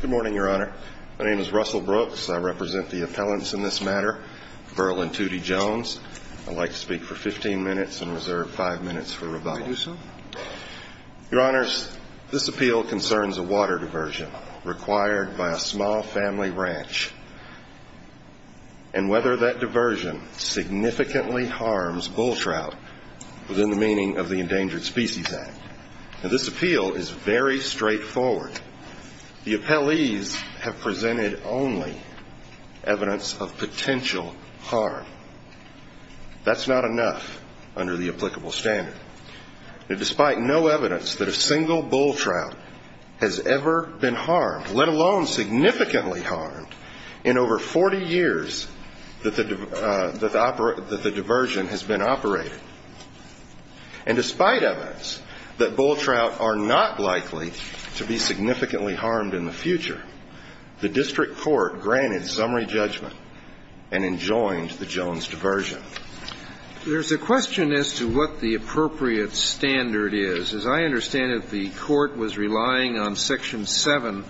Good morning, Your Honor. My name is Russell Brooks. I represent the appellants in this matter, Verl and Tootie Jones. I'd like to speak for 15 minutes and reserve 5 minutes for rebuttal. May I do so? Your Honors, this appeal concerns a water diversion required by a small family ranch and whether that diversion significantly harms bull trout within the meaning of the Endangered Species Act. This appeal is very straightforward. The appellees have presented only evidence of potential harm. That's not enough under the applicable standard. Despite no evidence that a single bull trout has ever been harmed, let alone significantly harmed, in over 40 years that the diversion has been operated. And despite evidence that bull trout are not likely to be significantly harmed in the future, the district court granted summary judgment and enjoined the Jones diversion. There's a question as to what the appropriate standard is. As I understand it, the court was relying on Section 7,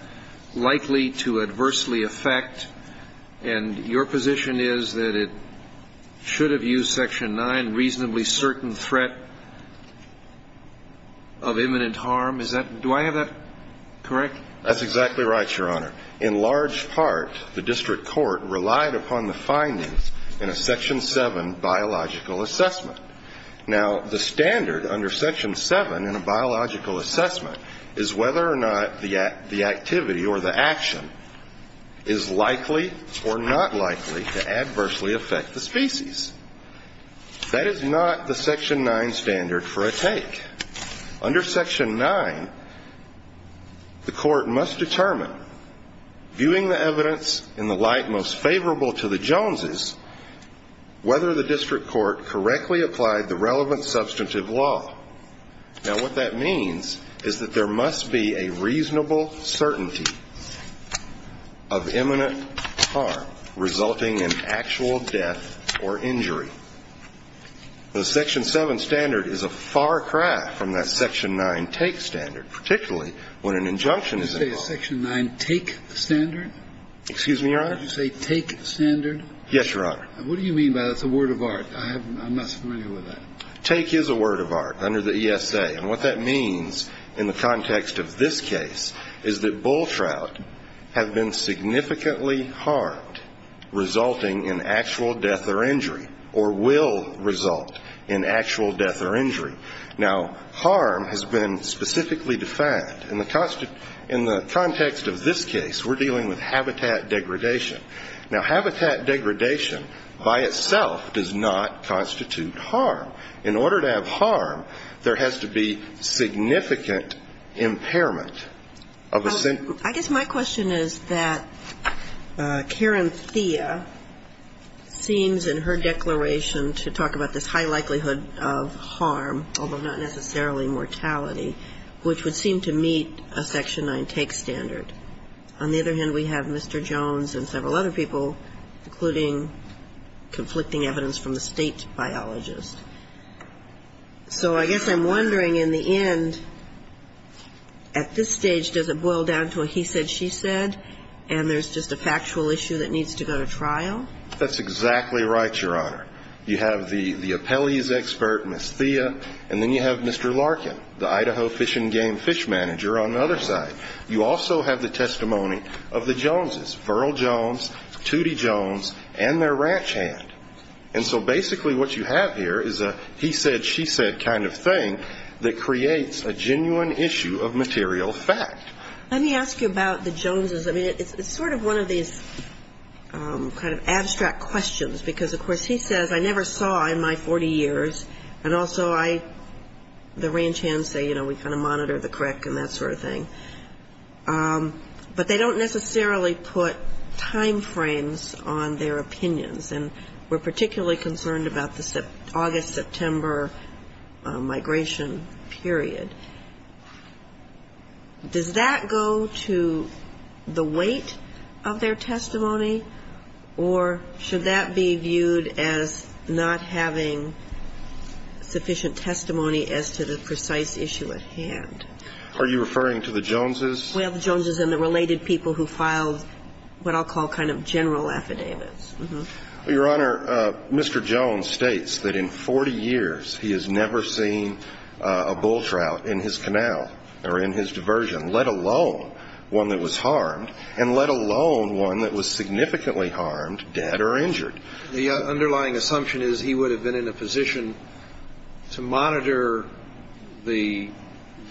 likely to adversely affect. And your position is that it should have used Section 9, reasonably certain threat of imminent harm. Is that, do I have that correct? That's exactly right, Your Honor. In large part, the district court relied upon the findings in a Section 7 biological assessment. Now, the standard under Section 7 in a biological assessment is whether or not the activity or the action is likely or not likely to adversely affect the species. That is not the Section 9 standard for a take. Under Section 9, the court must determine, viewing the evidence in the light most favorable to the Joneses, whether the district court correctly applied the relevant substantive law. Now, what that means is that there must be a reasonable certainty of imminent harm resulting in actual death or injury. The Section 7 standard is a far cry from that Section 9 take standard, particularly when an injunction is involved. Did you say Section 9 take standard? Excuse me, Your Honor? Did you say take standard? Yes, Your Honor. What do you mean by that? It's a word of art. I'm not familiar with that. Take is a word of art under the ESA, and what that means in the context of this case is that bull trout have been significantly harmed, resulting in actual death or injury, or will result in actual death or injury. Now, harm has been specifically defined. In the context of this case, we're dealing with habitat degradation. Now, habitat degradation by itself does not constitute harm. In order to have harm, there has to be significant impairment of a sentence. I guess my question is that Karen Thea seems in her declaration to talk about this high likelihood of harm, although not necessarily mortality, which would seem to meet a Section 9 take standard. On the other hand, we have Mr. Jones and several other people, including conflicting evidence from the State biologist. So I guess I'm wondering in the end, at this stage, does it boil down to a he said, she said, and there's just a factual issue that needs to go to trial? That's exactly right, Your Honor. You have the appellee's expert, Ms. Thea, and then you have Mr. Larkin, the Idaho Fish and Game fish manager on the other side. You also have the testimony of the Joneses, Verl Jones, Tootie Jones, and their ranch hand. And so basically what you have here is a he said, she said kind of thing that creates a genuine issue of material fact. Let me ask you about the Joneses. I mean, it's sort of one of these kind of abstract questions, because, of course, he says, I never saw in my 40 years, and also I, the ranch hands say, you know, we kind of monitor the crick and that sort of thing. But they don't necessarily put time frames on their opinions, and we're particularly concerned about the August-September migration period. Does that go to the weight of their testimony, or should that be viewed as not having sufficient testimony as to the precise issue at hand? Are you referring to the Joneses? We have the Joneses and the related people who filed what I'll call kind of general affidavits. Your Honor, Mr. Jones states that in 40 years he has never seen a bull trout in his canal or in his diversion, let alone one that was harmed, and let alone one that was significantly harmed, dead, or injured. The underlying assumption is he would have been in a position to monitor the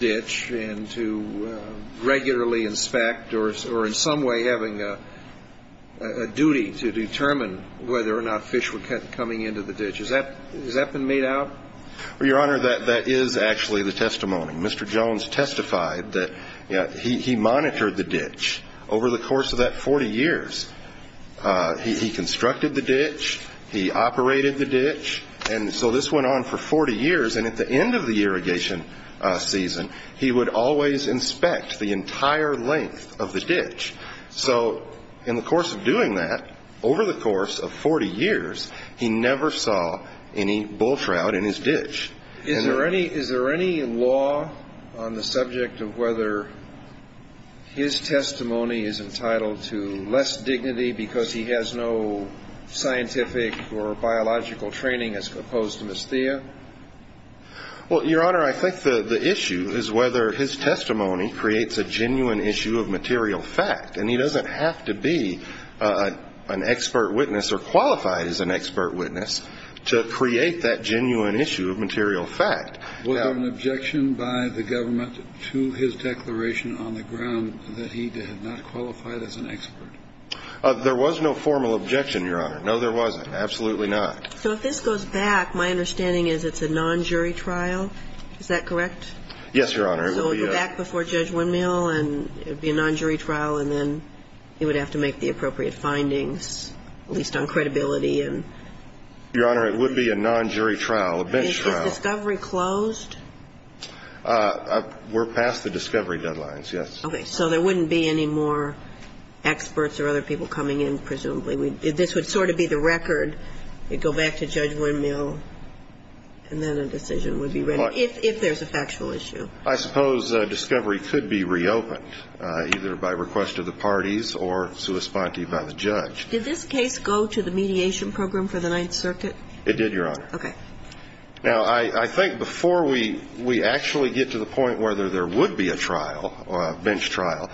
ditch and to regularly inspect or in some way having a duty to determine whether or not fish were coming into the ditch. Has that been made out? Well, Your Honor, that is actually the testimony. Mr. Jones testified that he monitored the ditch. Over the course of that 40 years, he constructed the ditch, he operated the ditch, and so this went on for 40 years, and at the end of the irrigation season, he would always inspect the entire length of the ditch. So in the course of doing that, over the course of 40 years, he never saw any bull trout in his ditch. Is there any law on the subject of whether his testimony is entitled to less dignity because he has no scientific or biological training as opposed to Ms. Thea? Well, Your Honor, I think the issue is whether his testimony creates a genuine issue of material fact, and he doesn't have to be an expert witness or qualified as an expert witness to create that genuine issue of material fact. Was there an objection by the government to his declaration on the ground that he had not qualified as an expert? There was no formal objection, Your Honor. No, there wasn't. Absolutely not. So if this goes back, my understanding is it's a non-jury trial. Is that correct? Yes, Your Honor. So it would go back before Judge Windmill, and it would be a non-jury trial, and then he would have to make the appropriate findings, at least on credibility. Your Honor, it would be a non-jury trial, a bench trial. Is this discovery closed? We're past the discovery deadlines, yes. Okay. So there wouldn't be any more experts or other people coming in, presumably. This would sort of be the record. It would go back to Judge Windmill, and then a decision would be ready, if there's a factual issue. I suppose discovery could be reopened, either by request of the parties or sui sponte by the judge. Did this case go to the mediation program for the Ninth Circuit? It did, Your Honor. Okay. Now, I think before we actually get to the point whether there would be a trial or a bench trial,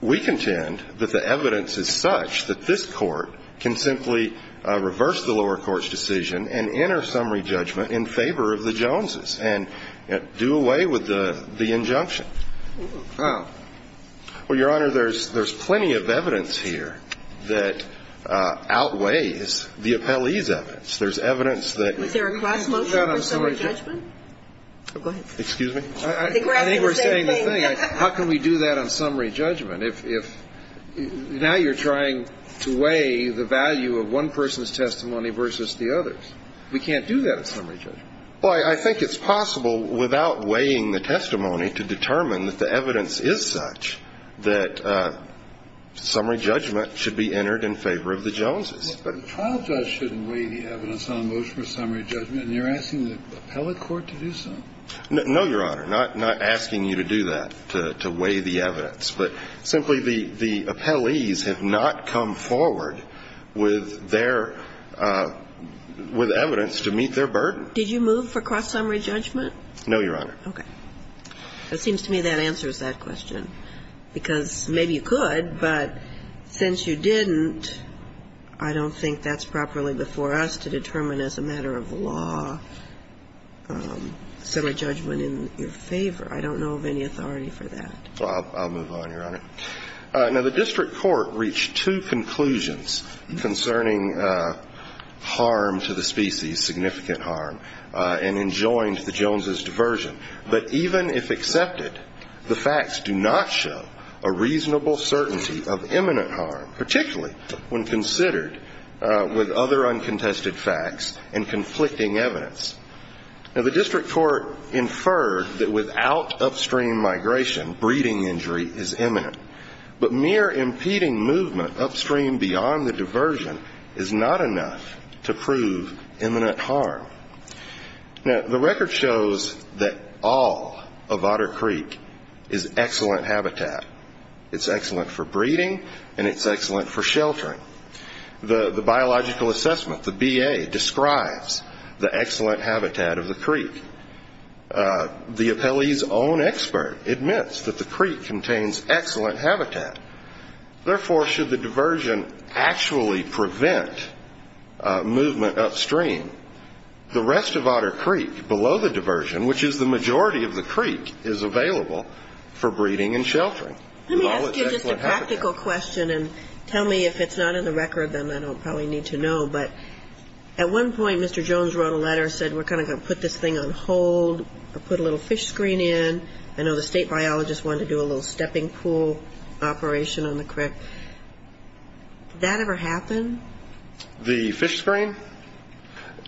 we contend that the evidence is such that this court can simply reverse the lower court's decision and enter summary judgment in favor of the Joneses and do away with the injunction. Oh. Well, Your Honor, there's plenty of evidence here that outweighs the appellee's evidence. There's evidence that you can do that on summary judgment. Is there a cross-motion for summary judgment? Oh, go ahead. Excuse me? I think we're saying the thing. How can we do that on summary judgment? If now you're trying to weigh the value of one person's testimony versus the other's. We can't do that on summary judgment. Well, I think it's possible, without weighing the testimony, to determine that the evidence is such that summary judgment should be entered in favor of the Joneses. But the trial judge shouldn't weigh the evidence on a motion for summary judgment, and you're asking the appellate court to do so. No, Your Honor. I don't think that's the case. But simply, the appellees have not come forward with their – with evidence to meet their burden. Did you move for cross-summary judgment? No, Your Honor. Okay. It seems to me that answers that question, because maybe you could, but since you didn't, I don't think that's properly before us to determine as a matter of law summary judgment in your favor. I don't know of any authority for that. Well, I'll move on, Your Honor. Now, the district court reached two conclusions concerning harm to the species, significant harm, and enjoined the Joneses' diversion. But even if accepted, the facts do not show a reasonable certainty of imminent harm, particularly when considered with other uncontested facts and conflicting evidence. Now, the district court inferred that without upstream migration, breeding injury is imminent. But mere impeding movement upstream beyond the diversion is not enough to prove imminent harm. Now, the record shows that all of Otter Creek is excellent habitat. It's excellent for breeding, and it's excellent for sheltering. The biological assessment, the BA, describes the excellent habitat of the creek. The appellee's own expert admits that the creek contains excellent habitat. Therefore, should the diversion actually prevent movement upstream, the rest of Otter Creek below the diversion, which is the majority of the creek, is available for breeding and sheltering. Let me ask you just a practical question, and tell me if it's not in the record, then I don't probably need to know. But at one point, Mr. Jones wrote a letter, said, we're kind of going to put this thing on hold or put a little fish screen in. I know the state biologist wanted to do a little stepping pool operation on the creek. Did that ever happen? The fish screen?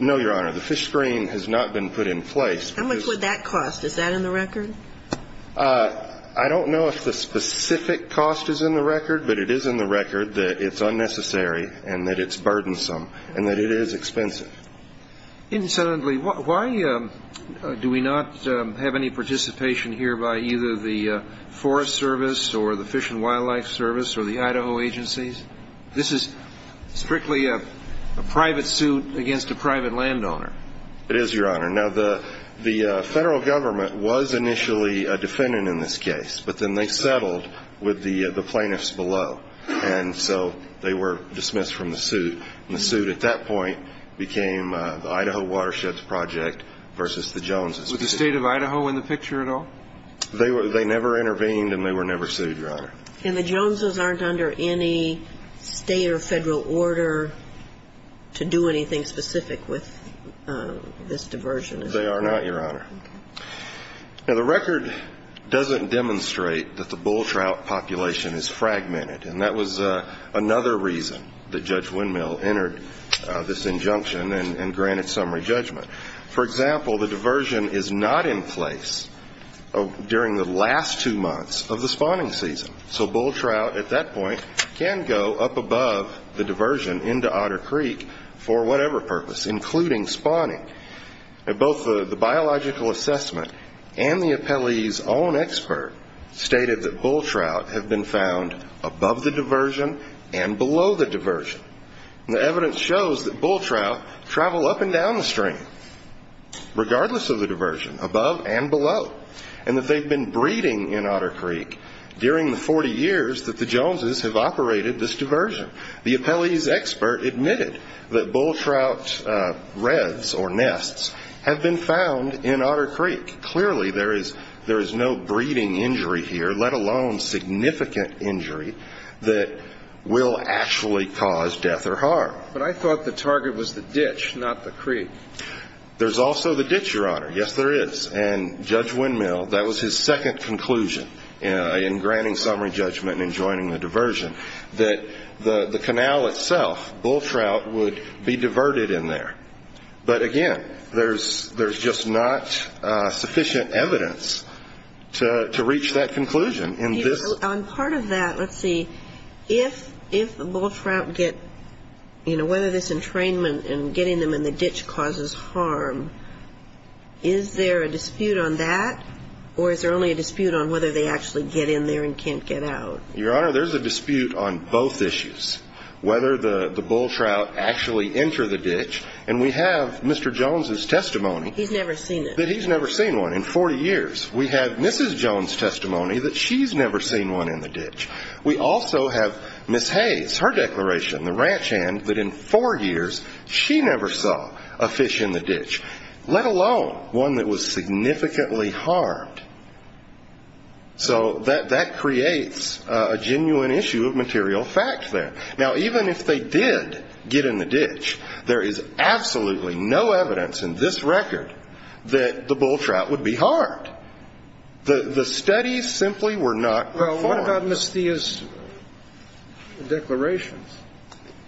No, Your Honor. The fish screen has not been put in place. How much would that cost? Is that in the record? I don't know if the specific cost is in the record, but it is in the record that it's unnecessary and that it's burdensome and that it is expensive. Incidentally, why do we not have any participation here by either the Forest Service or the Fish and Wildlife Service or the Idaho agencies? This is strictly a private suit against a private landowner. It is, Your Honor. Now, the federal government was initially a defendant in this case, but then they settled with the plaintiffs below, and so they were dismissed from the suit. And the suit at that point became the Idaho Watersheds Project versus the Joneses. Was the state of Idaho in the picture at all? They never intervened, and they were never sued, Your Honor. And the Joneses aren't under any state or federal order to do anything specific with this diversion? They are not, Your Honor. Now, the record doesn't demonstrate that the bull trout population is fragmented, and that was another reason that Judge Windmill entered this injunction and granted summary judgment. For example, the diversion is not in place during the last two months of the spawning season, so bull trout at that point can go up above the diversion into Otter Creek for whatever purpose, including spawning. Both the biological assessment and the appellee's own expert stated that bull trout have been found above the diversion and below the diversion. The evidence shows that bull trout travel up and down the stream, regardless of the diversion, above and below, and that they've been breeding in Otter Creek during the 40 years that the Joneses have operated this diversion. The appellee's expert admitted that bull trout reds or nests have been found in Otter Creek. Clearly, there is no breeding injury here, let alone significant injury that will actually cause death or harm. But I thought the target was the ditch, not the creek. There's also the ditch, Your Honor. Yes, there is. And Judge Windmill, that was his second conclusion in granting summary judgment and in joining the diversion, that the canal itself, bull trout, would be diverted in there. But again, there's just not sufficient evidence to reach that conclusion. On part of that, let's see, if the bull trout get, you know, whether this entrainment and getting them in the ditch causes harm, is there a dispute on that, or is there only a dispute on whether they actually get in there and can't get out? Your Honor, there's a dispute on both issues, whether the bull trout actually enter the ditch and we have Mr. Jones' testimony that he's never seen one in 40 years. We have Mrs. Jones' testimony that she's never seen one in the ditch. We also have Ms. Hayes, her declaration, the ranch hand, that in four years she never saw a fish in the ditch, let alone one that was significantly harmed. So that creates a genuine issue of material fact there. Now, even if they did get in the ditch, there is absolutely no evidence in this record that the bull trout would be harmed. The studies simply were not performed. Well, what about Ms. Thea's declarations?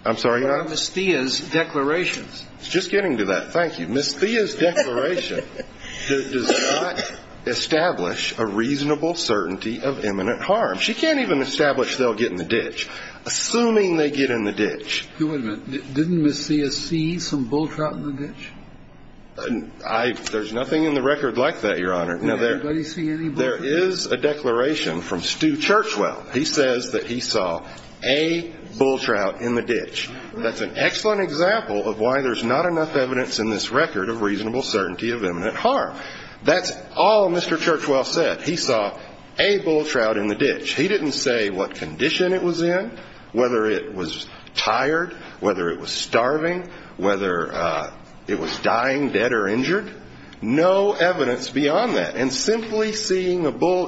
I'm sorry, Your Honor? What about Ms. Thea's declarations? Just getting to that, thank you. Ms. Thea's declaration does not establish a reasonable certainty of imminent harm. She can't even establish they'll get in the ditch. Assuming they get in the ditch. Wait a minute. Didn't Ms. Thea see some bull trout in the ditch? There's nothing in the record like that, Your Honor. Now, there is a declaration from Stu Churchwell. He says that he saw a bull trout in the ditch. That's an excellent example of why there's not enough evidence in this record of reasonable certainty of imminent harm. That's all Mr. Churchwell said. He saw a bull trout in the ditch. He didn't say what condition it was in, whether it was tired, whether it was starving, whether it was dying, dead, or injured. No evidence beyond that. And simply seeing a bull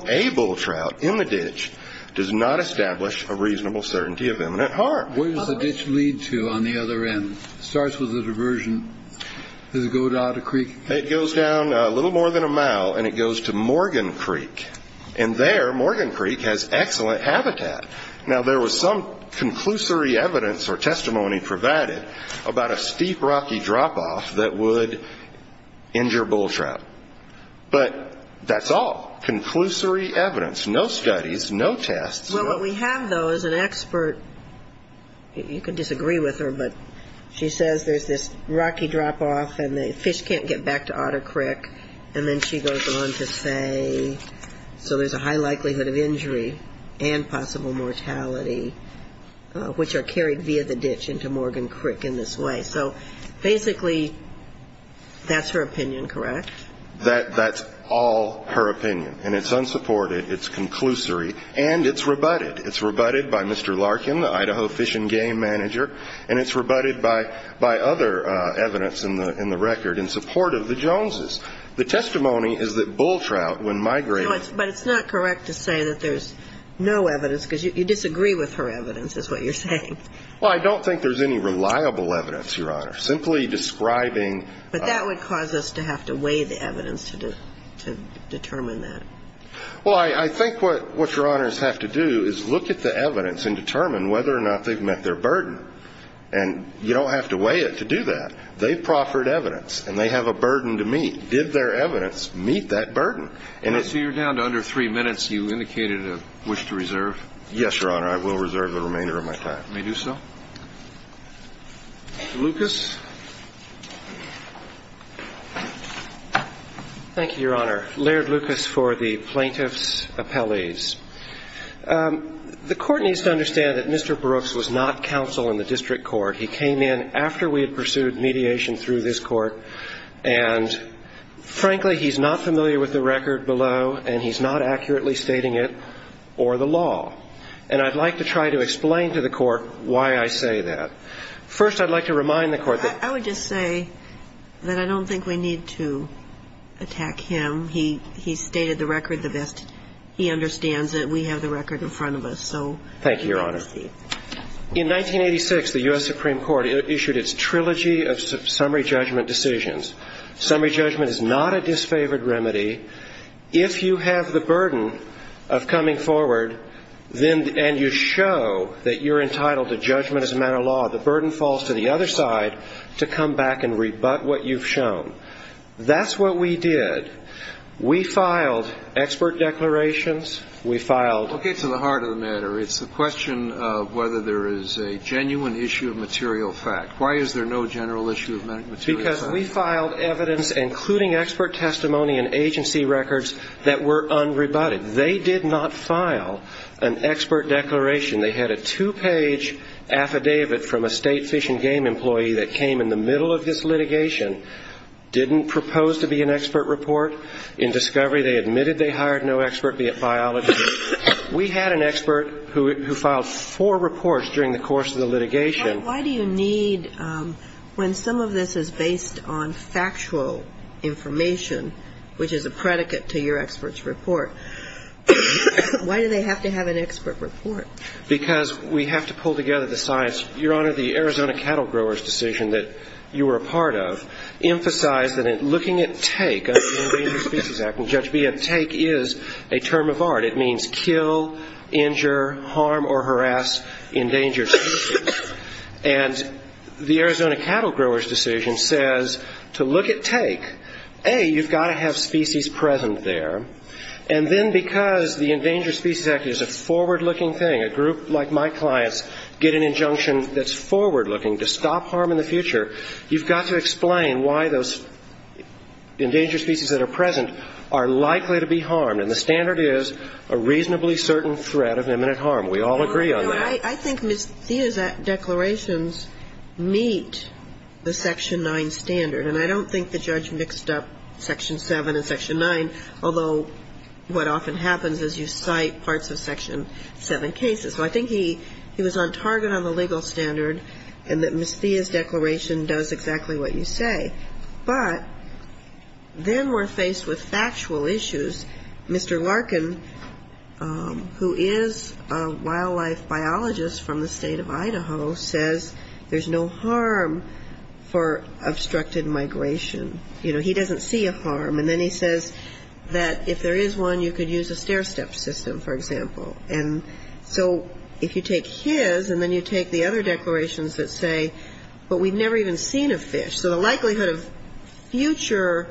trout in the ditch does not establish a reasonable certainty of imminent harm. Where does the ditch lead to on the other end? It starts with a diversion. Does it go out a creek? It goes down a little more than a mile, and it goes to Morgan Creek. And there, Morgan Creek has excellent habitat. Now, there was some conclusory evidence or testimony provided about a steep, rocky drop-off that would injure bull trout. But that's all. Conclusory evidence. No studies. No tests. Well, what we have, though, is an expert. You can disagree with her, but she says there's this rocky drop-off and the fish can't get back to Otter Creek. And then she goes on to say, so there's a high likelihood of injury and possible mortality, which are carried via the ditch into Morgan Creek in this way. So, basically, that's her opinion, correct? That's all her opinion. And it's unsupported, it's conclusory, and it's rebutted. It's rebutted by Mr. Larkin, the Idaho Fish and Game Manager, and it's rebutted by other evidence in the record in support of the Joneses. The testimony is that bull trout, when migrating to Otter Creek, But it's not correct to say that there's no evidence, because you disagree with her evidence, is what you're saying. Well, I don't think there's any reliable evidence, Your Honor. Simply describing But that would cause us to have to weigh the evidence to determine that. Well, I think what Your Honors have to do is look at the evidence and determine whether or not they've met their burden. And you don't have to weigh it to do that. They've proffered evidence, and they have a burden to meet. Did their evidence meet that burden? So you're down to under three minutes. You indicated a wish to reserve. Yes, Your Honor, I will reserve the remainder of my time. May I do so? Mr. Lucas? Thank you, Your Honor. Laird Lucas for the plaintiff's appellees. The Court needs to understand that Mr. Brooks was not counsel in the district court. He came in after we had pursued mediation through this Court. And, frankly, he's not familiar with the record below, and he's not accurately stating it or the law. And I'd like to try to explain to the Court why I say that. First, I'd like to remind the Court that I would just say that I don't think we need to attack him. He's stated the record the best he understands it. We have the record in front of us. Thank you, Your Honor. In 1986, the U.S. Supreme Court issued its Trilogy of Summary Judgment Decisions. Summary judgment is not a disfavored remedy. If you have the burden of coming forward and you show that you're entitled to judgment as a matter of law, the burden falls to the other side to come back and rebut what you've shown. That's what we did. We filed expert declarations. Okay, to the heart of the matter, it's the question of whether there is a genuine issue of material fact. Why is there no general issue of material fact? Because we filed evidence, including expert testimony and agency records, that were unrebutted. They did not file an expert declaration. They had a two-page affidavit from a state fish and game employee that came in the middle of this litigation, didn't propose to be an expert report. In discovery, they admitted they hired no expert, be it biology. We had an expert who filed four reports during the course of the litigation. Why do you need, when some of this is based on factual information, which is a predicate to your expert's report, why do they have to have an expert report? Because we have to pull together the science. Your Honor, the Arizona Cattle Growers' Decision that you were a part of emphasized that looking at take under the Endangered Species Act, and Judge B, take is a term of art. It means kill, injure, harm or harass endangered species. And the Arizona Cattle Growers' Decision says to look at take, A, you've got to have species present there, and then because the Endangered Species Act is a forward-looking thing, a group like my clients get an injunction that's forward-looking to stop harm in the future, you've got to explain why those endangered species that are present are likely to be harmed. And the standard is a reasonably certain threat of imminent harm. We all agree on that. I think Ms. Thea's declarations meet the Section 9 standard. And I don't think the judge mixed up Section 7 and Section 9, although what often happens is you cite parts of Section 7 cases. So I think he was on target on the legal standard and that Ms. Thea's declaration does exactly what you say. But then we're faced with factual issues. Mr. Larkin, who is a wildlife biologist from the state of Idaho, says there's no harm for obstructed migration. You know, he doesn't see a harm. And then he says that if there is one, you could use a stair-step system, for example. And so if you take his and then you take the other declarations that say, but we've never even seen a fish. So the likelihood of future,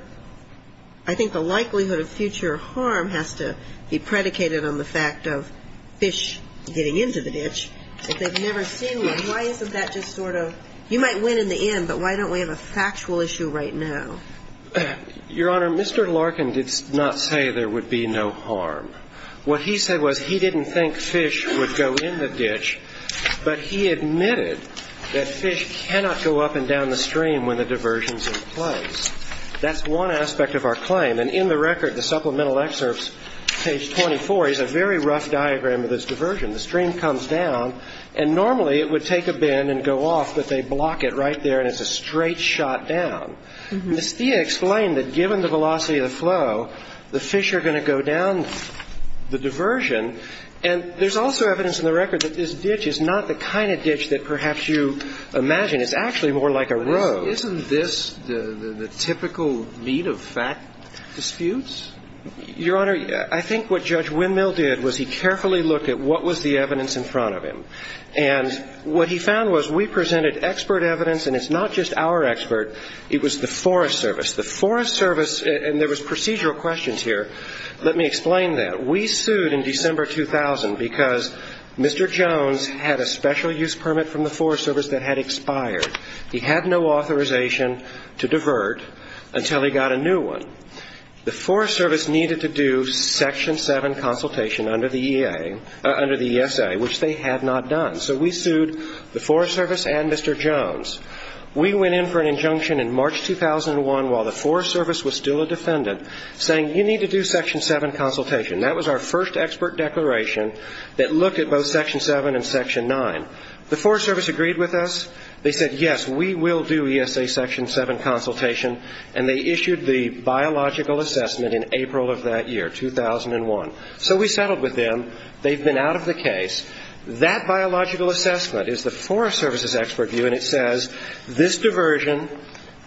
I think the likelihood of future harm has to be predicated on the fact of fish getting into the ditch. If they've never seen one, why isn't that just sort of, you might win in the end, but why don't we have a factual issue right now? Your Honor, Mr. Larkin did not say there would be no harm. What he said was he didn't think fish would go in the ditch, but he admitted that fish cannot go up and down the stream when the diversion's in place. That's one aspect of our claim. And in the record, the supplemental excerpts, page 24, is a very rough diagram of this diversion. The stream comes down, and normally it would take a bend and go off, but they block it right there and it's a straight shot down. Mistia explained that given the velocity of the flow, the fish are going to go down the diversion. And there's also evidence in the record that this ditch is not the kind of ditch that perhaps you imagine. It's actually more like a road. Isn't this the typical meat of fact disputes? Your Honor, I think what Judge Windmill did was he carefully looked at what was the evidence in front of him. And what he found was we presented expert evidence, and it's not just our expert. It was the Forest Service. The Forest Service, and there was procedural questions here. Let me explain that. We sued in December 2000 because Mr. Jones had a special use permit from the Forest Service that had expired. He had no authorization to divert until he got a new one. The Forest Service needed to do Section 7 consultation under the ESA, which they had not done. So we sued the Forest Service and Mr. Jones. We went in for an injunction in March 2001 while the Forest Service was still a defendant, saying you need to do Section 7 consultation. That was our first expert declaration that looked at both Section 7 and Section 9. The Forest Service agreed with us. They said, yes, we will do ESA Section 7 consultation, and they issued the biological assessment in April of that year, 2001. So we settled with them. They've been out of the case. That biological assessment is the Forest Service's expert view, and it says this diversion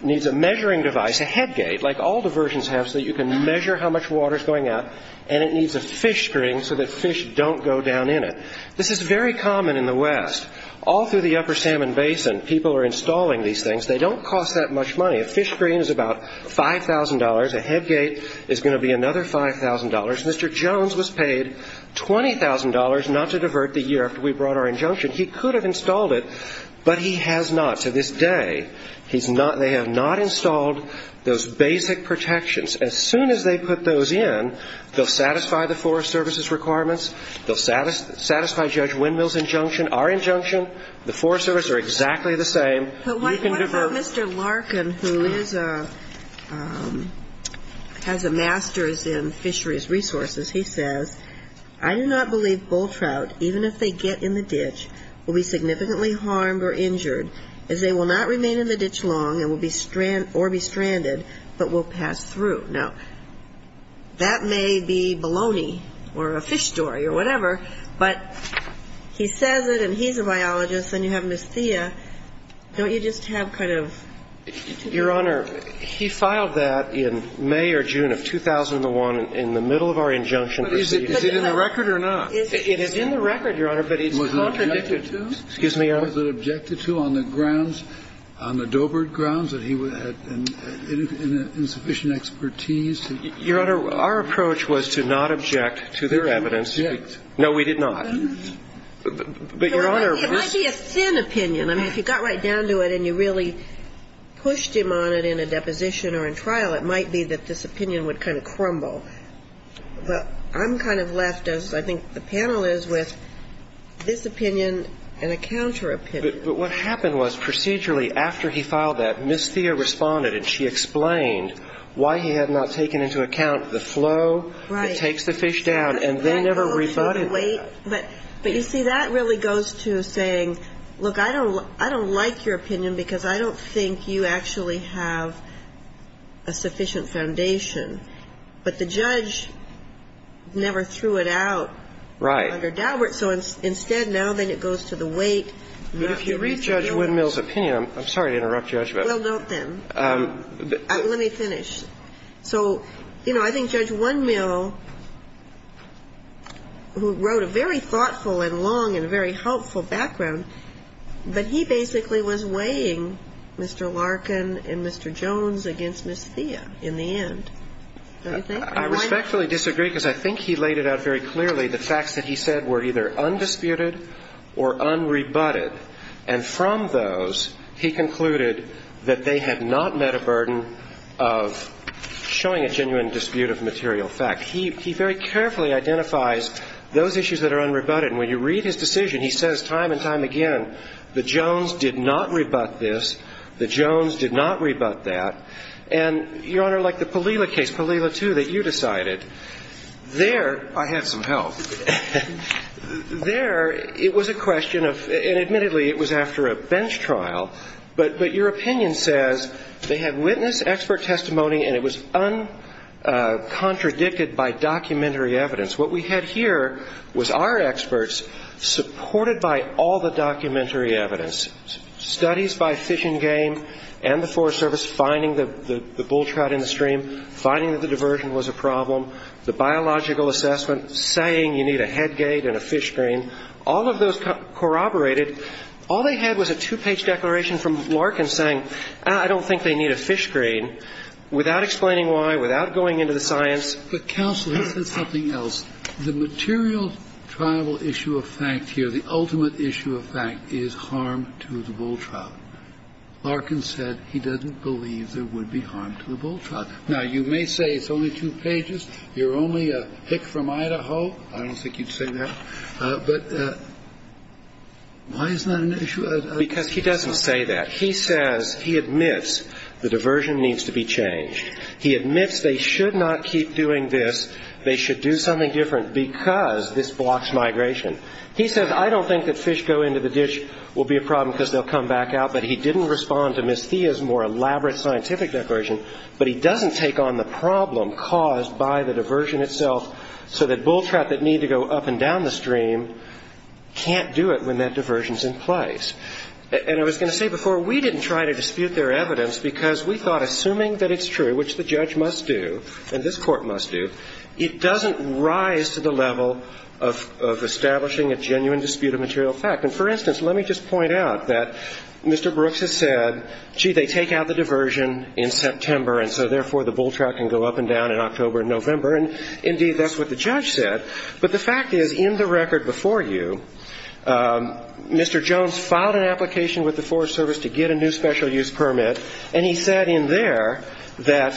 needs a measuring device, a head gate, like all diversions have so that you can measure how much water is going out, and it needs a fish spring so that fish don't go down in it. This is very common in the West. All through the upper Salmon Basin, people are installing these things. They don't cost that much money. A fish spring is about $5,000. A head gate is going to be another $5,000. Mr. Jones was paid $20,000 not to divert the year after we brought our injunction. He could have installed it, but he has not to this day. They have not installed those basic protections. As soon as they put those in, they'll satisfy the Forest Service's requirements. They'll satisfy Judge Windmill's injunction, our injunction. The Forest Service are exactly the same. You can divert. But what about Mr. Larkin who has a master's in fisheries resources? He says, I do not believe bull trout, even if they get in the ditch, will be significantly harmed or injured by the fish. But the point he's making is they will not remain in the ditch long or be stranded but will pass through. Now, that may be baloney or a fish story or whatever, but he says it and he's a biologist and you have Ms. Thea. Don't you just have kind of to do with that? Your Honor, he filed that in May or June of 2001 in the middle of our injunction proceedings. But is it in the record or not? It is in the record, Your Honor, but it's contradicted. Was it objected to? Excuse me, Your Honor. Was it objected to on the grounds, on the Doebert grounds that he had insufficient expertise? Your Honor, our approach was to not object to their evidence. You didn't object. No, we did not. But, Your Honor. It might be a thin opinion. I mean, if you got right down to it and you really pushed him on it in a deposition or in trial, it might be that this opinion would kind of crumble. But I'm kind of left, as I think the panel is, with this opinion and a counter opinion. But what happened was procedurally after he filed that, Ms. Thea responded and she explained why he had not taken into account the flow that takes the fish down. Right. And they never rebutted that. But you see, that really goes to saying, look, I don't like your opinion because I don't think you actually have a sufficient foundation. But the judge never threw it out under Doebert. Right. So instead, now, then, it goes to the weight. But if you read Judge Windmill's opinion, I'm sorry to interrupt, Judge, but. Well, don't then. Let me finish. So, you know, I think Judge Windmill, who wrote a very thoughtful and long and very helpful background, but he basically was weighing Mr. Larkin and Mr. Jones against Ms. Thea in the end. Don't you think? I respectfully disagree because I think he laid it out very clearly. The facts that he said were either undisputed or unrebutted. And from those, he concluded that they had not met a burden of showing a genuine dispute of material fact. He very carefully identifies those issues that are unrebutted. And when you read his decision, he says time and time again, the Jones did not rebut this. The Jones did not rebut that. And, Your Honor, like the Palila case, Palila 2, that you decided, there I had some help. There it was a question of, and admittedly, it was after a bench trial, but your opinion says they had witness, expert testimony, and it was uncontradicted by documentary evidence. What we had here was our experts supported by all the documentary evidence, studies by Fish and Game and the Forest Service finding the bull trout in the stream, finding that the diversion was a problem, the biological assessment saying you need a head gate and a fish screen. All of those corroborated. All they had was a two-page declaration from Larkin saying, I don't think they need a fish screen, without explaining why, without going into the science. But counsel, he said something else. The material tribal issue of fact here, the ultimate issue of fact, is harm to the bull trout. Larkin said he doesn't believe there would be harm to the bull trout. Now, you may say it's only two pages. You're only a pick from Idaho. I don't think you'd say that. But why is that an issue? Because he doesn't say that. He says, he admits the diversion needs to be changed. He admits they should not keep doing this. They should do something different because this blocks migration. He says, I don't think that fish go into the dish will be a problem because they'll come back out, but he didn't respond to Ms. Thea's more elaborate scientific declaration, but he doesn't take on the problem caused by the diversion itself so that bull trout that need to go up and down the stream can't do it when that diversion's in place. And I was going to say before, we didn't try to dispute their evidence because we thought, assuming that it's true, which the judge must do and this Court must do, it doesn't rise to the level of establishing a genuine dispute of material fact. And, for instance, let me just point out that Mr. Brooks has said, gee, they take out the diversion in September and so, therefore, the bull trout can go up and down in October and November. And, indeed, that's what the judge said. But the fact is, in the record before you, Mr. Jones filed an application with the Forest Service to get a new special use permit, and he said in there that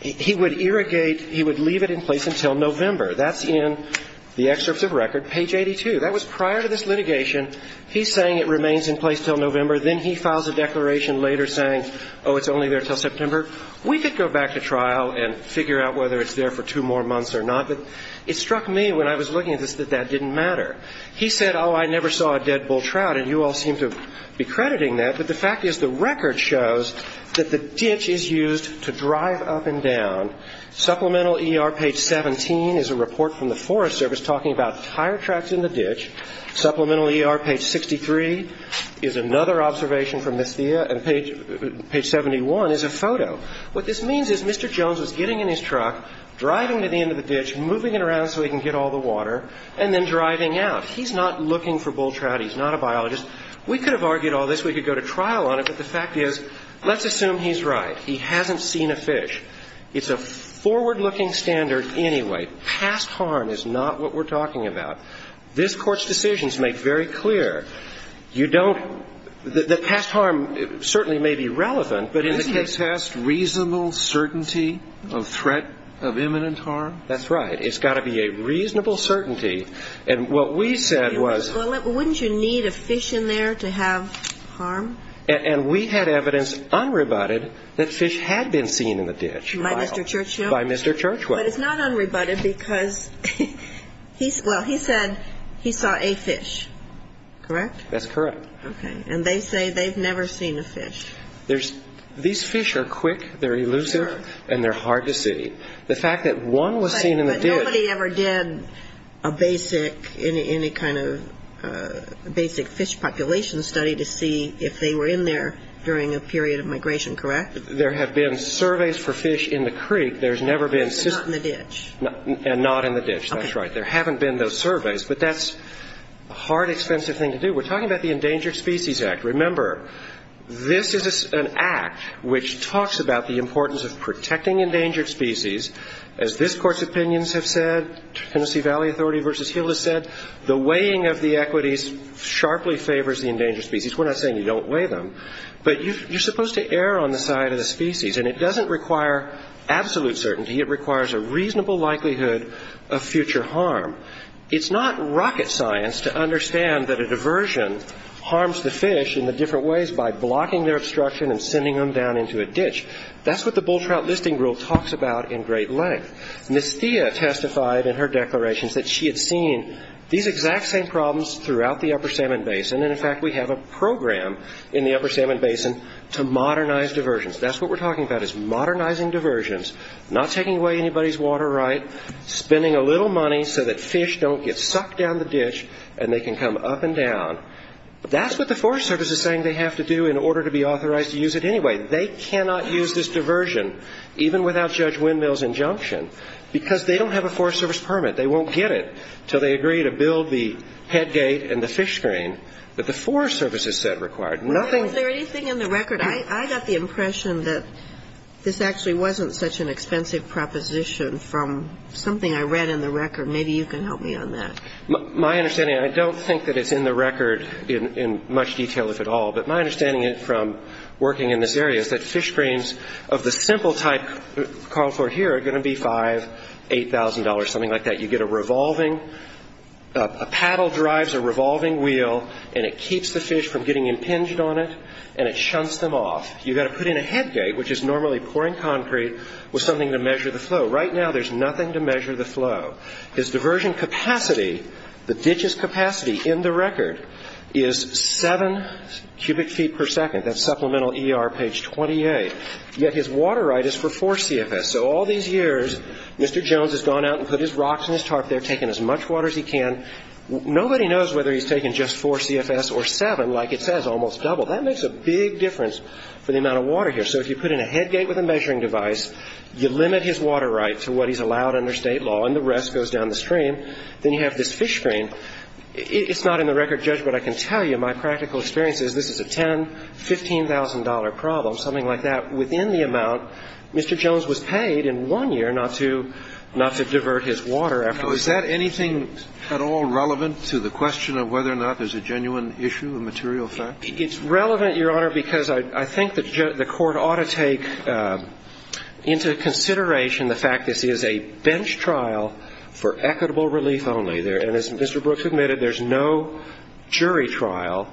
he would irrigate, he would leave it in place until November. That's in the excerpts of record, page 82. That was prior to this litigation. He's saying it remains in place until November. Then he files a declaration later saying, oh, it's only there until September. We could go back to trial and figure out whether it's there for two more months or not, but it struck me when I was looking at this that that didn't matter. He said, oh, I never saw a dead bull trout, and you all seem to be crediting that. But the fact is the record shows that the ditch is used to drive up and down. Supplemental ER, page 17, is a report from the Forest Service talking about tire tracks in the ditch. Supplemental ER, page 63, is another observation from Ms. Thea. And page 71 is a photo. What this means is Mr. Jones was getting in his truck, driving to the end of the ditch, moving it around so he can get all the water, and then driving out. He's not looking for bull trout. He's not a biologist. We could have argued all this. We could go to trial on it. But the fact is, let's assume he's right. He hasn't seen a fish. It's a forward-looking standard anyway. Past harm is not what we're talking about. This Court's decisions make very clear you don't the past harm certainly may be relevant, but in the case test, reasonable certainty of threat of imminent harm? That's right. It's got to be a reasonable certainty. And what we said was... Well, wouldn't you need a fish in there to have harm? And we had evidence, unrebutted, that fish had been seen in the ditch. By Mr. Churchill? By Mr. Churchwell. But it's not unrebutted because, well, he said he saw a fish, correct? That's correct. Okay. And they say they've never seen a fish. These fish are quick, they're elusive, and they're hard to see. The fact that one was seen in the ditch... But nobody ever did a basic fish population study to see if they were in there during a period of migration, correct? There have been surveys for fish in the creek. There's never been... And not in the ditch. And not in the ditch. That's right. There haven't been those surveys. But that's a hard, expensive thing to do. We're talking about the Endangered Species Act. Remember, this is an act which talks about the importance of protecting endangered species. As this Court's opinions have said, Tennessee Valley Authority v. Hill has said, the weighing of the equities sharply favors the endangered species. We're not saying you don't weigh them. But you're supposed to err on the side of the species. And it doesn't require absolute certainty. It requires a reasonable likelihood of future harm. It's not rocket science to understand that a diversion harms the fish in the different ways by blocking their obstruction and sending them down into a ditch. That's what the Bull Trout Listing Rule talks about in great length. Ms. Thea testified in her declarations that she had seen these exact same problems throughout the Upper Salmon Basin. And, in fact, we have a program in the Upper Salmon Basin to modernize diversions. That's what we're talking about is modernizing diversions, not taking away anybody's water right, spending a little money so that fish don't get sucked down the ditch and they can come up and down. That's what the Forest Service is saying they have to do in order to be authorized to use it anyway. They cannot use this diversion, even without Judge Windmill's injunction, because they don't have a Forest Service permit. They won't get it until they agree to build the head gate and the fish screen that the Forest Service has said required. Nothing else. Something I read in the record. Maybe you can help me on that. My understanding, and I don't think that it's in the record in much detail, if at all, but my understanding from working in this area is that fish screens of the simple type called for here are going to be $5,000, $8,000, something like that. You get a revolving, a paddle drives a revolving wheel, and it keeps the fish from getting impinged on it, and it shunts them off. You've got to put in a head gate, which is normally pouring concrete, with something to measure the flow. Right now, there's nothing to measure the flow. His diversion capacity, the ditch's capacity in the record, is 7 cubic feet per second. That's supplemental ER page 28. Yet his water right is for 4 CFS. So all these years, Mr. Jones has gone out and put his rocks and his tarp there, taken as much water as he can. Nobody knows whether he's taken just 4 CFS or 7, like it says, almost double. That makes a big difference for the amount of water here. So if you put in a head gate with a measuring device, you limit his water right to what he's allowed under State law, and the rest goes down the stream, then you have this fish screen. It's not in the record, Judge, but I can tell you my practical experience is this is a $10,000, $15,000 problem, something like that. Within the amount, Mr. Jones was paid in one year not to divert his water. Was that anything at all relevant to the question of whether or not there's a genuine issue, a material fact? It's relevant, Your Honor, because I think the court ought to take into consideration the fact this is a bench trial for equitable relief only. And as Mr. Brooks admitted, there's no jury trial.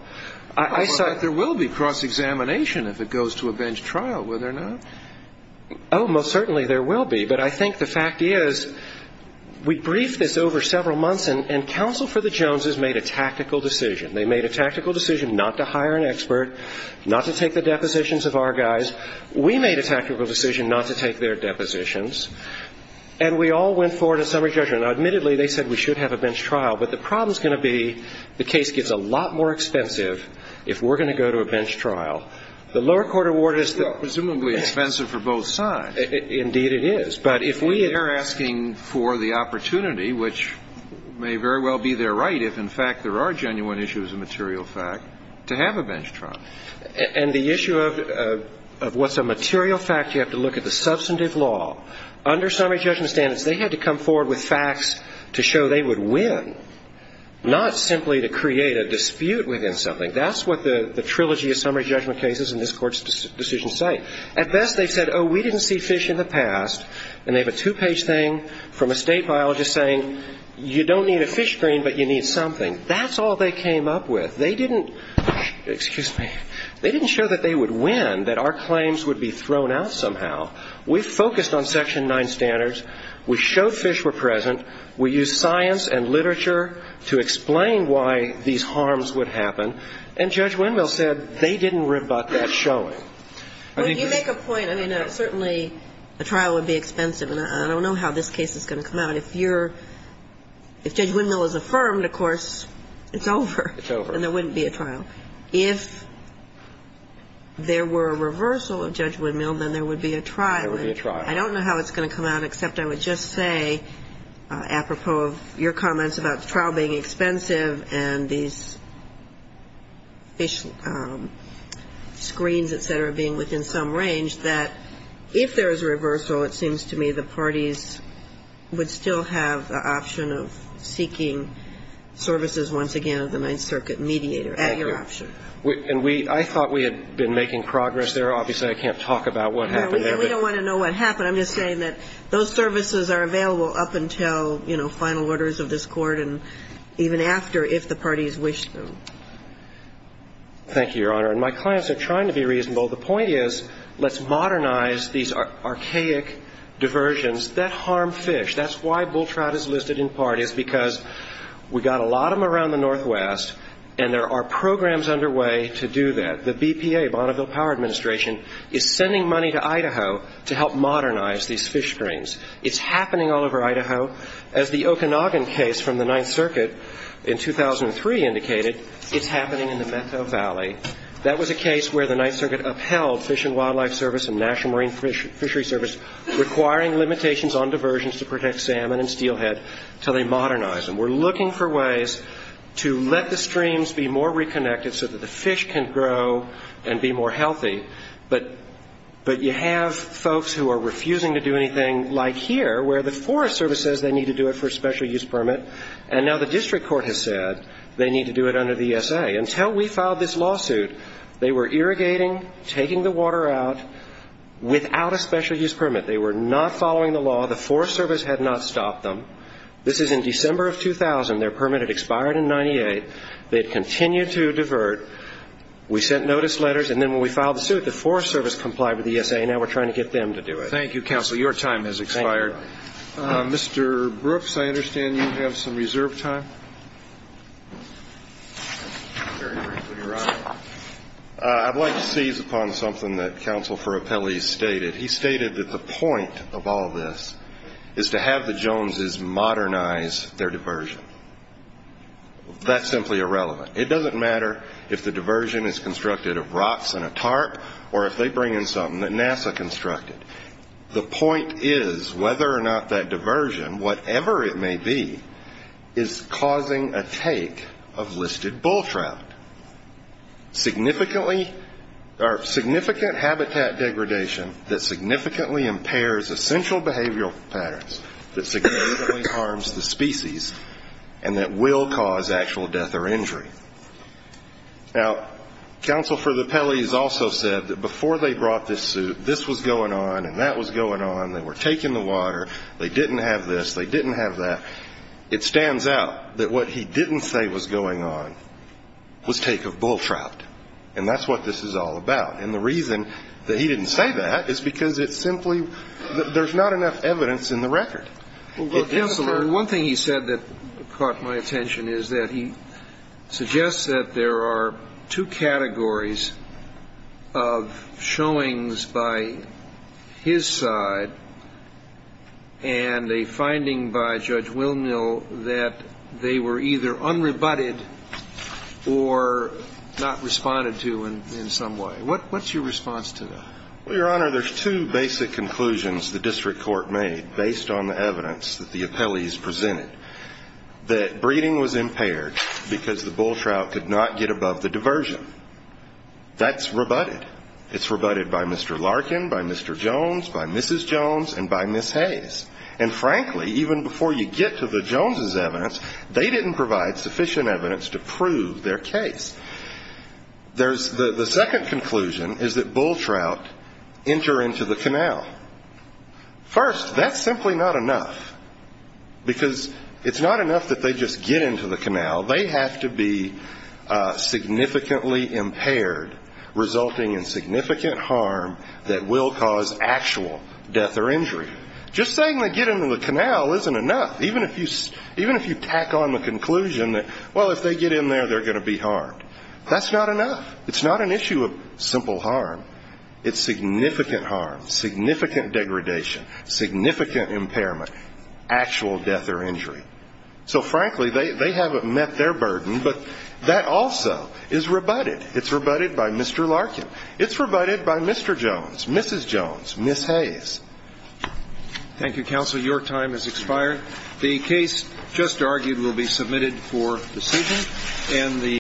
But there will be cross-examination if it goes to a bench trial, will there not? Oh, most certainly there will be. But I think the fact is we briefed this over several months, and counsel for the Joneses made a tactical decision. They made a tactical decision not to hire an expert, not to take the depositions of our guys. We made a tactical decision not to take their depositions, and we all went forward to summary judgment. Now, admittedly, they said we should have a bench trial, but the problem is going to be the case gets a lot more expensive if we're going to go to a bench trial. The lower court award is presumably expensive for both sides. Indeed it is. But if we are asking for the opportunity, which may very well be their right if, in fact, there are genuine issues of material fact, to have a bench trial. And the issue of what's a material fact, you have to look at the substantive law. Under summary judgment standards, they had to come forward with facts to show they would win, not simply to create a dispute within something. That's what the trilogy of summary judgment cases in this Court's decision say. At best, they said, oh, we didn't see fish in the past. And they have a two-page thing from a state biologist saying you don't need a fish screen, but you need something. That's all they came up with. They didn't – excuse me – they didn't show that they would win, that our claims would be thrown out somehow. We focused on Section 9 standards. We showed fish were present. We used science and literature to explain why these harms would happen. And Judge Windmill said they didn't rebut that showing. I mean – Well, you make a point. I mean, certainly a trial would be expensive. And I don't know how this case is going to come out. If you're – if Judge Windmill is affirmed, of course, it's over. It's over. And there wouldn't be a trial. If there were a reversal of Judge Windmill, then there would be a trial. There would be a trial. I don't know how it's going to come out, except I would just say, apropos of your comments about the trial being expensive and these fish screens, et cetera, being within some range, that if there is a reversal, it seems to me the parties would still have the option of seeking services once again of the Ninth Circuit mediator at your option. And we – I thought we had been making progress there. Obviously, I can't talk about what happened there. No, we don't want to know what happened. I'm just saying that those services are available up until, you know, final orders of this Court and even after if the parties wish them. Thank you, Your Honor. And my claims are trying to be reasonable. The point is let's modernize these archaic diversions that harm fish. That's why bull trout is listed in part is because we've got a lot of them around the Northwest and there are programs underway to do that. The BPA, Bonneville Power Administration, is sending money to Idaho to help modernize these fish screens. It's happening all over Idaho. As the Okanagan case from the Ninth Circuit in 2003 indicated, it's happening in the Meadow Valley. That was a case where the Ninth Circuit upheld Fish and Wildlife Service and National Marine Fishery Service requiring limitations on diversions to protect salmon and steelhead until they modernize them. We're looking for ways to let the streams be more reconnected so that the fish can grow and be more healthy. But you have folks who are refusing to do anything like here where the Forest Service says they need to do it for a special use permit and now the District Court has said they need to do it under the ESA. Until we filed this lawsuit, they were irrigating, taking the water out, without a special use permit. They were not following the law. The Forest Service had not stopped them. This is in December of 2000. Their permit had expired in 1998. They had continued to divert. We sent notice letters, and then when we filed the suit, the Forest Service complied with the ESA, and now we're trying to get them to do it. Thank you, counsel. Your time has expired. Mr. Brooks, I understand you have some reserve time. I'd like to seize upon something that Counsel for Appellees stated. He stated that the point of all this is to have the Joneses modernize their diversion. That's simply irrelevant. It doesn't matter if the diversion is constructed of rocks and a tarp or if they bring in something that NASA constructed. The point is, whether or not that diversion, whatever it may be, is causing a take of listed bull trout. Significantly habitat degradation that significantly impairs essential behavioral patterns, that significantly harms the species, and that will cause actual death or injury. Now, Counsel for the Appellees also said that before they brought this suit, that this was going on and that was going on. They were taking the water. They didn't have this. They didn't have that. It stands out that what he didn't say was going on was take of bull trout, and that's what this is all about. And the reason that he didn't say that is because it's simply there's not enough evidence in the record. Counselor, one thing he said that caught my attention is that he suggests that there are two categories of showings by his side and a finding by Judge Wilmill that they were either unrebutted or not responded to in some way. What's your response to that? Well, Your Honor, there's two basic conclusions the district court made based on the evidence that the appellees presented, that breeding was impaired because the bull trout could not get above the diversion. That's rebutted. It's rebutted by Mr. Larkin, by Mr. Jones, by Mrs. Jones, and by Ms. Hayes. And, frankly, even before you get to the Joneses' evidence, they didn't provide sufficient evidence to prove their case. The second conclusion is that bull trout enter into the canal. First, that's simply not enough because it's not enough that they just get into the canal, they have to be significantly impaired, resulting in significant harm that will cause actual death or injury. Just saying they get into the canal isn't enough, even if you tack on the conclusion that, well, if they get in there, they're going to be harmed. That's not enough. It's not an issue of simple harm. It's significant harm, significant degradation, significant impairment, actual death or injury. So, frankly, they haven't met their burden, but that also is rebutted. It's rebutted by Mr. Larkin. It's rebutted by Mr. Jones, Mrs. Jones, Ms. Hayes. Thank you, counsel. Your time has expired. The case just argued will be submitted for decision.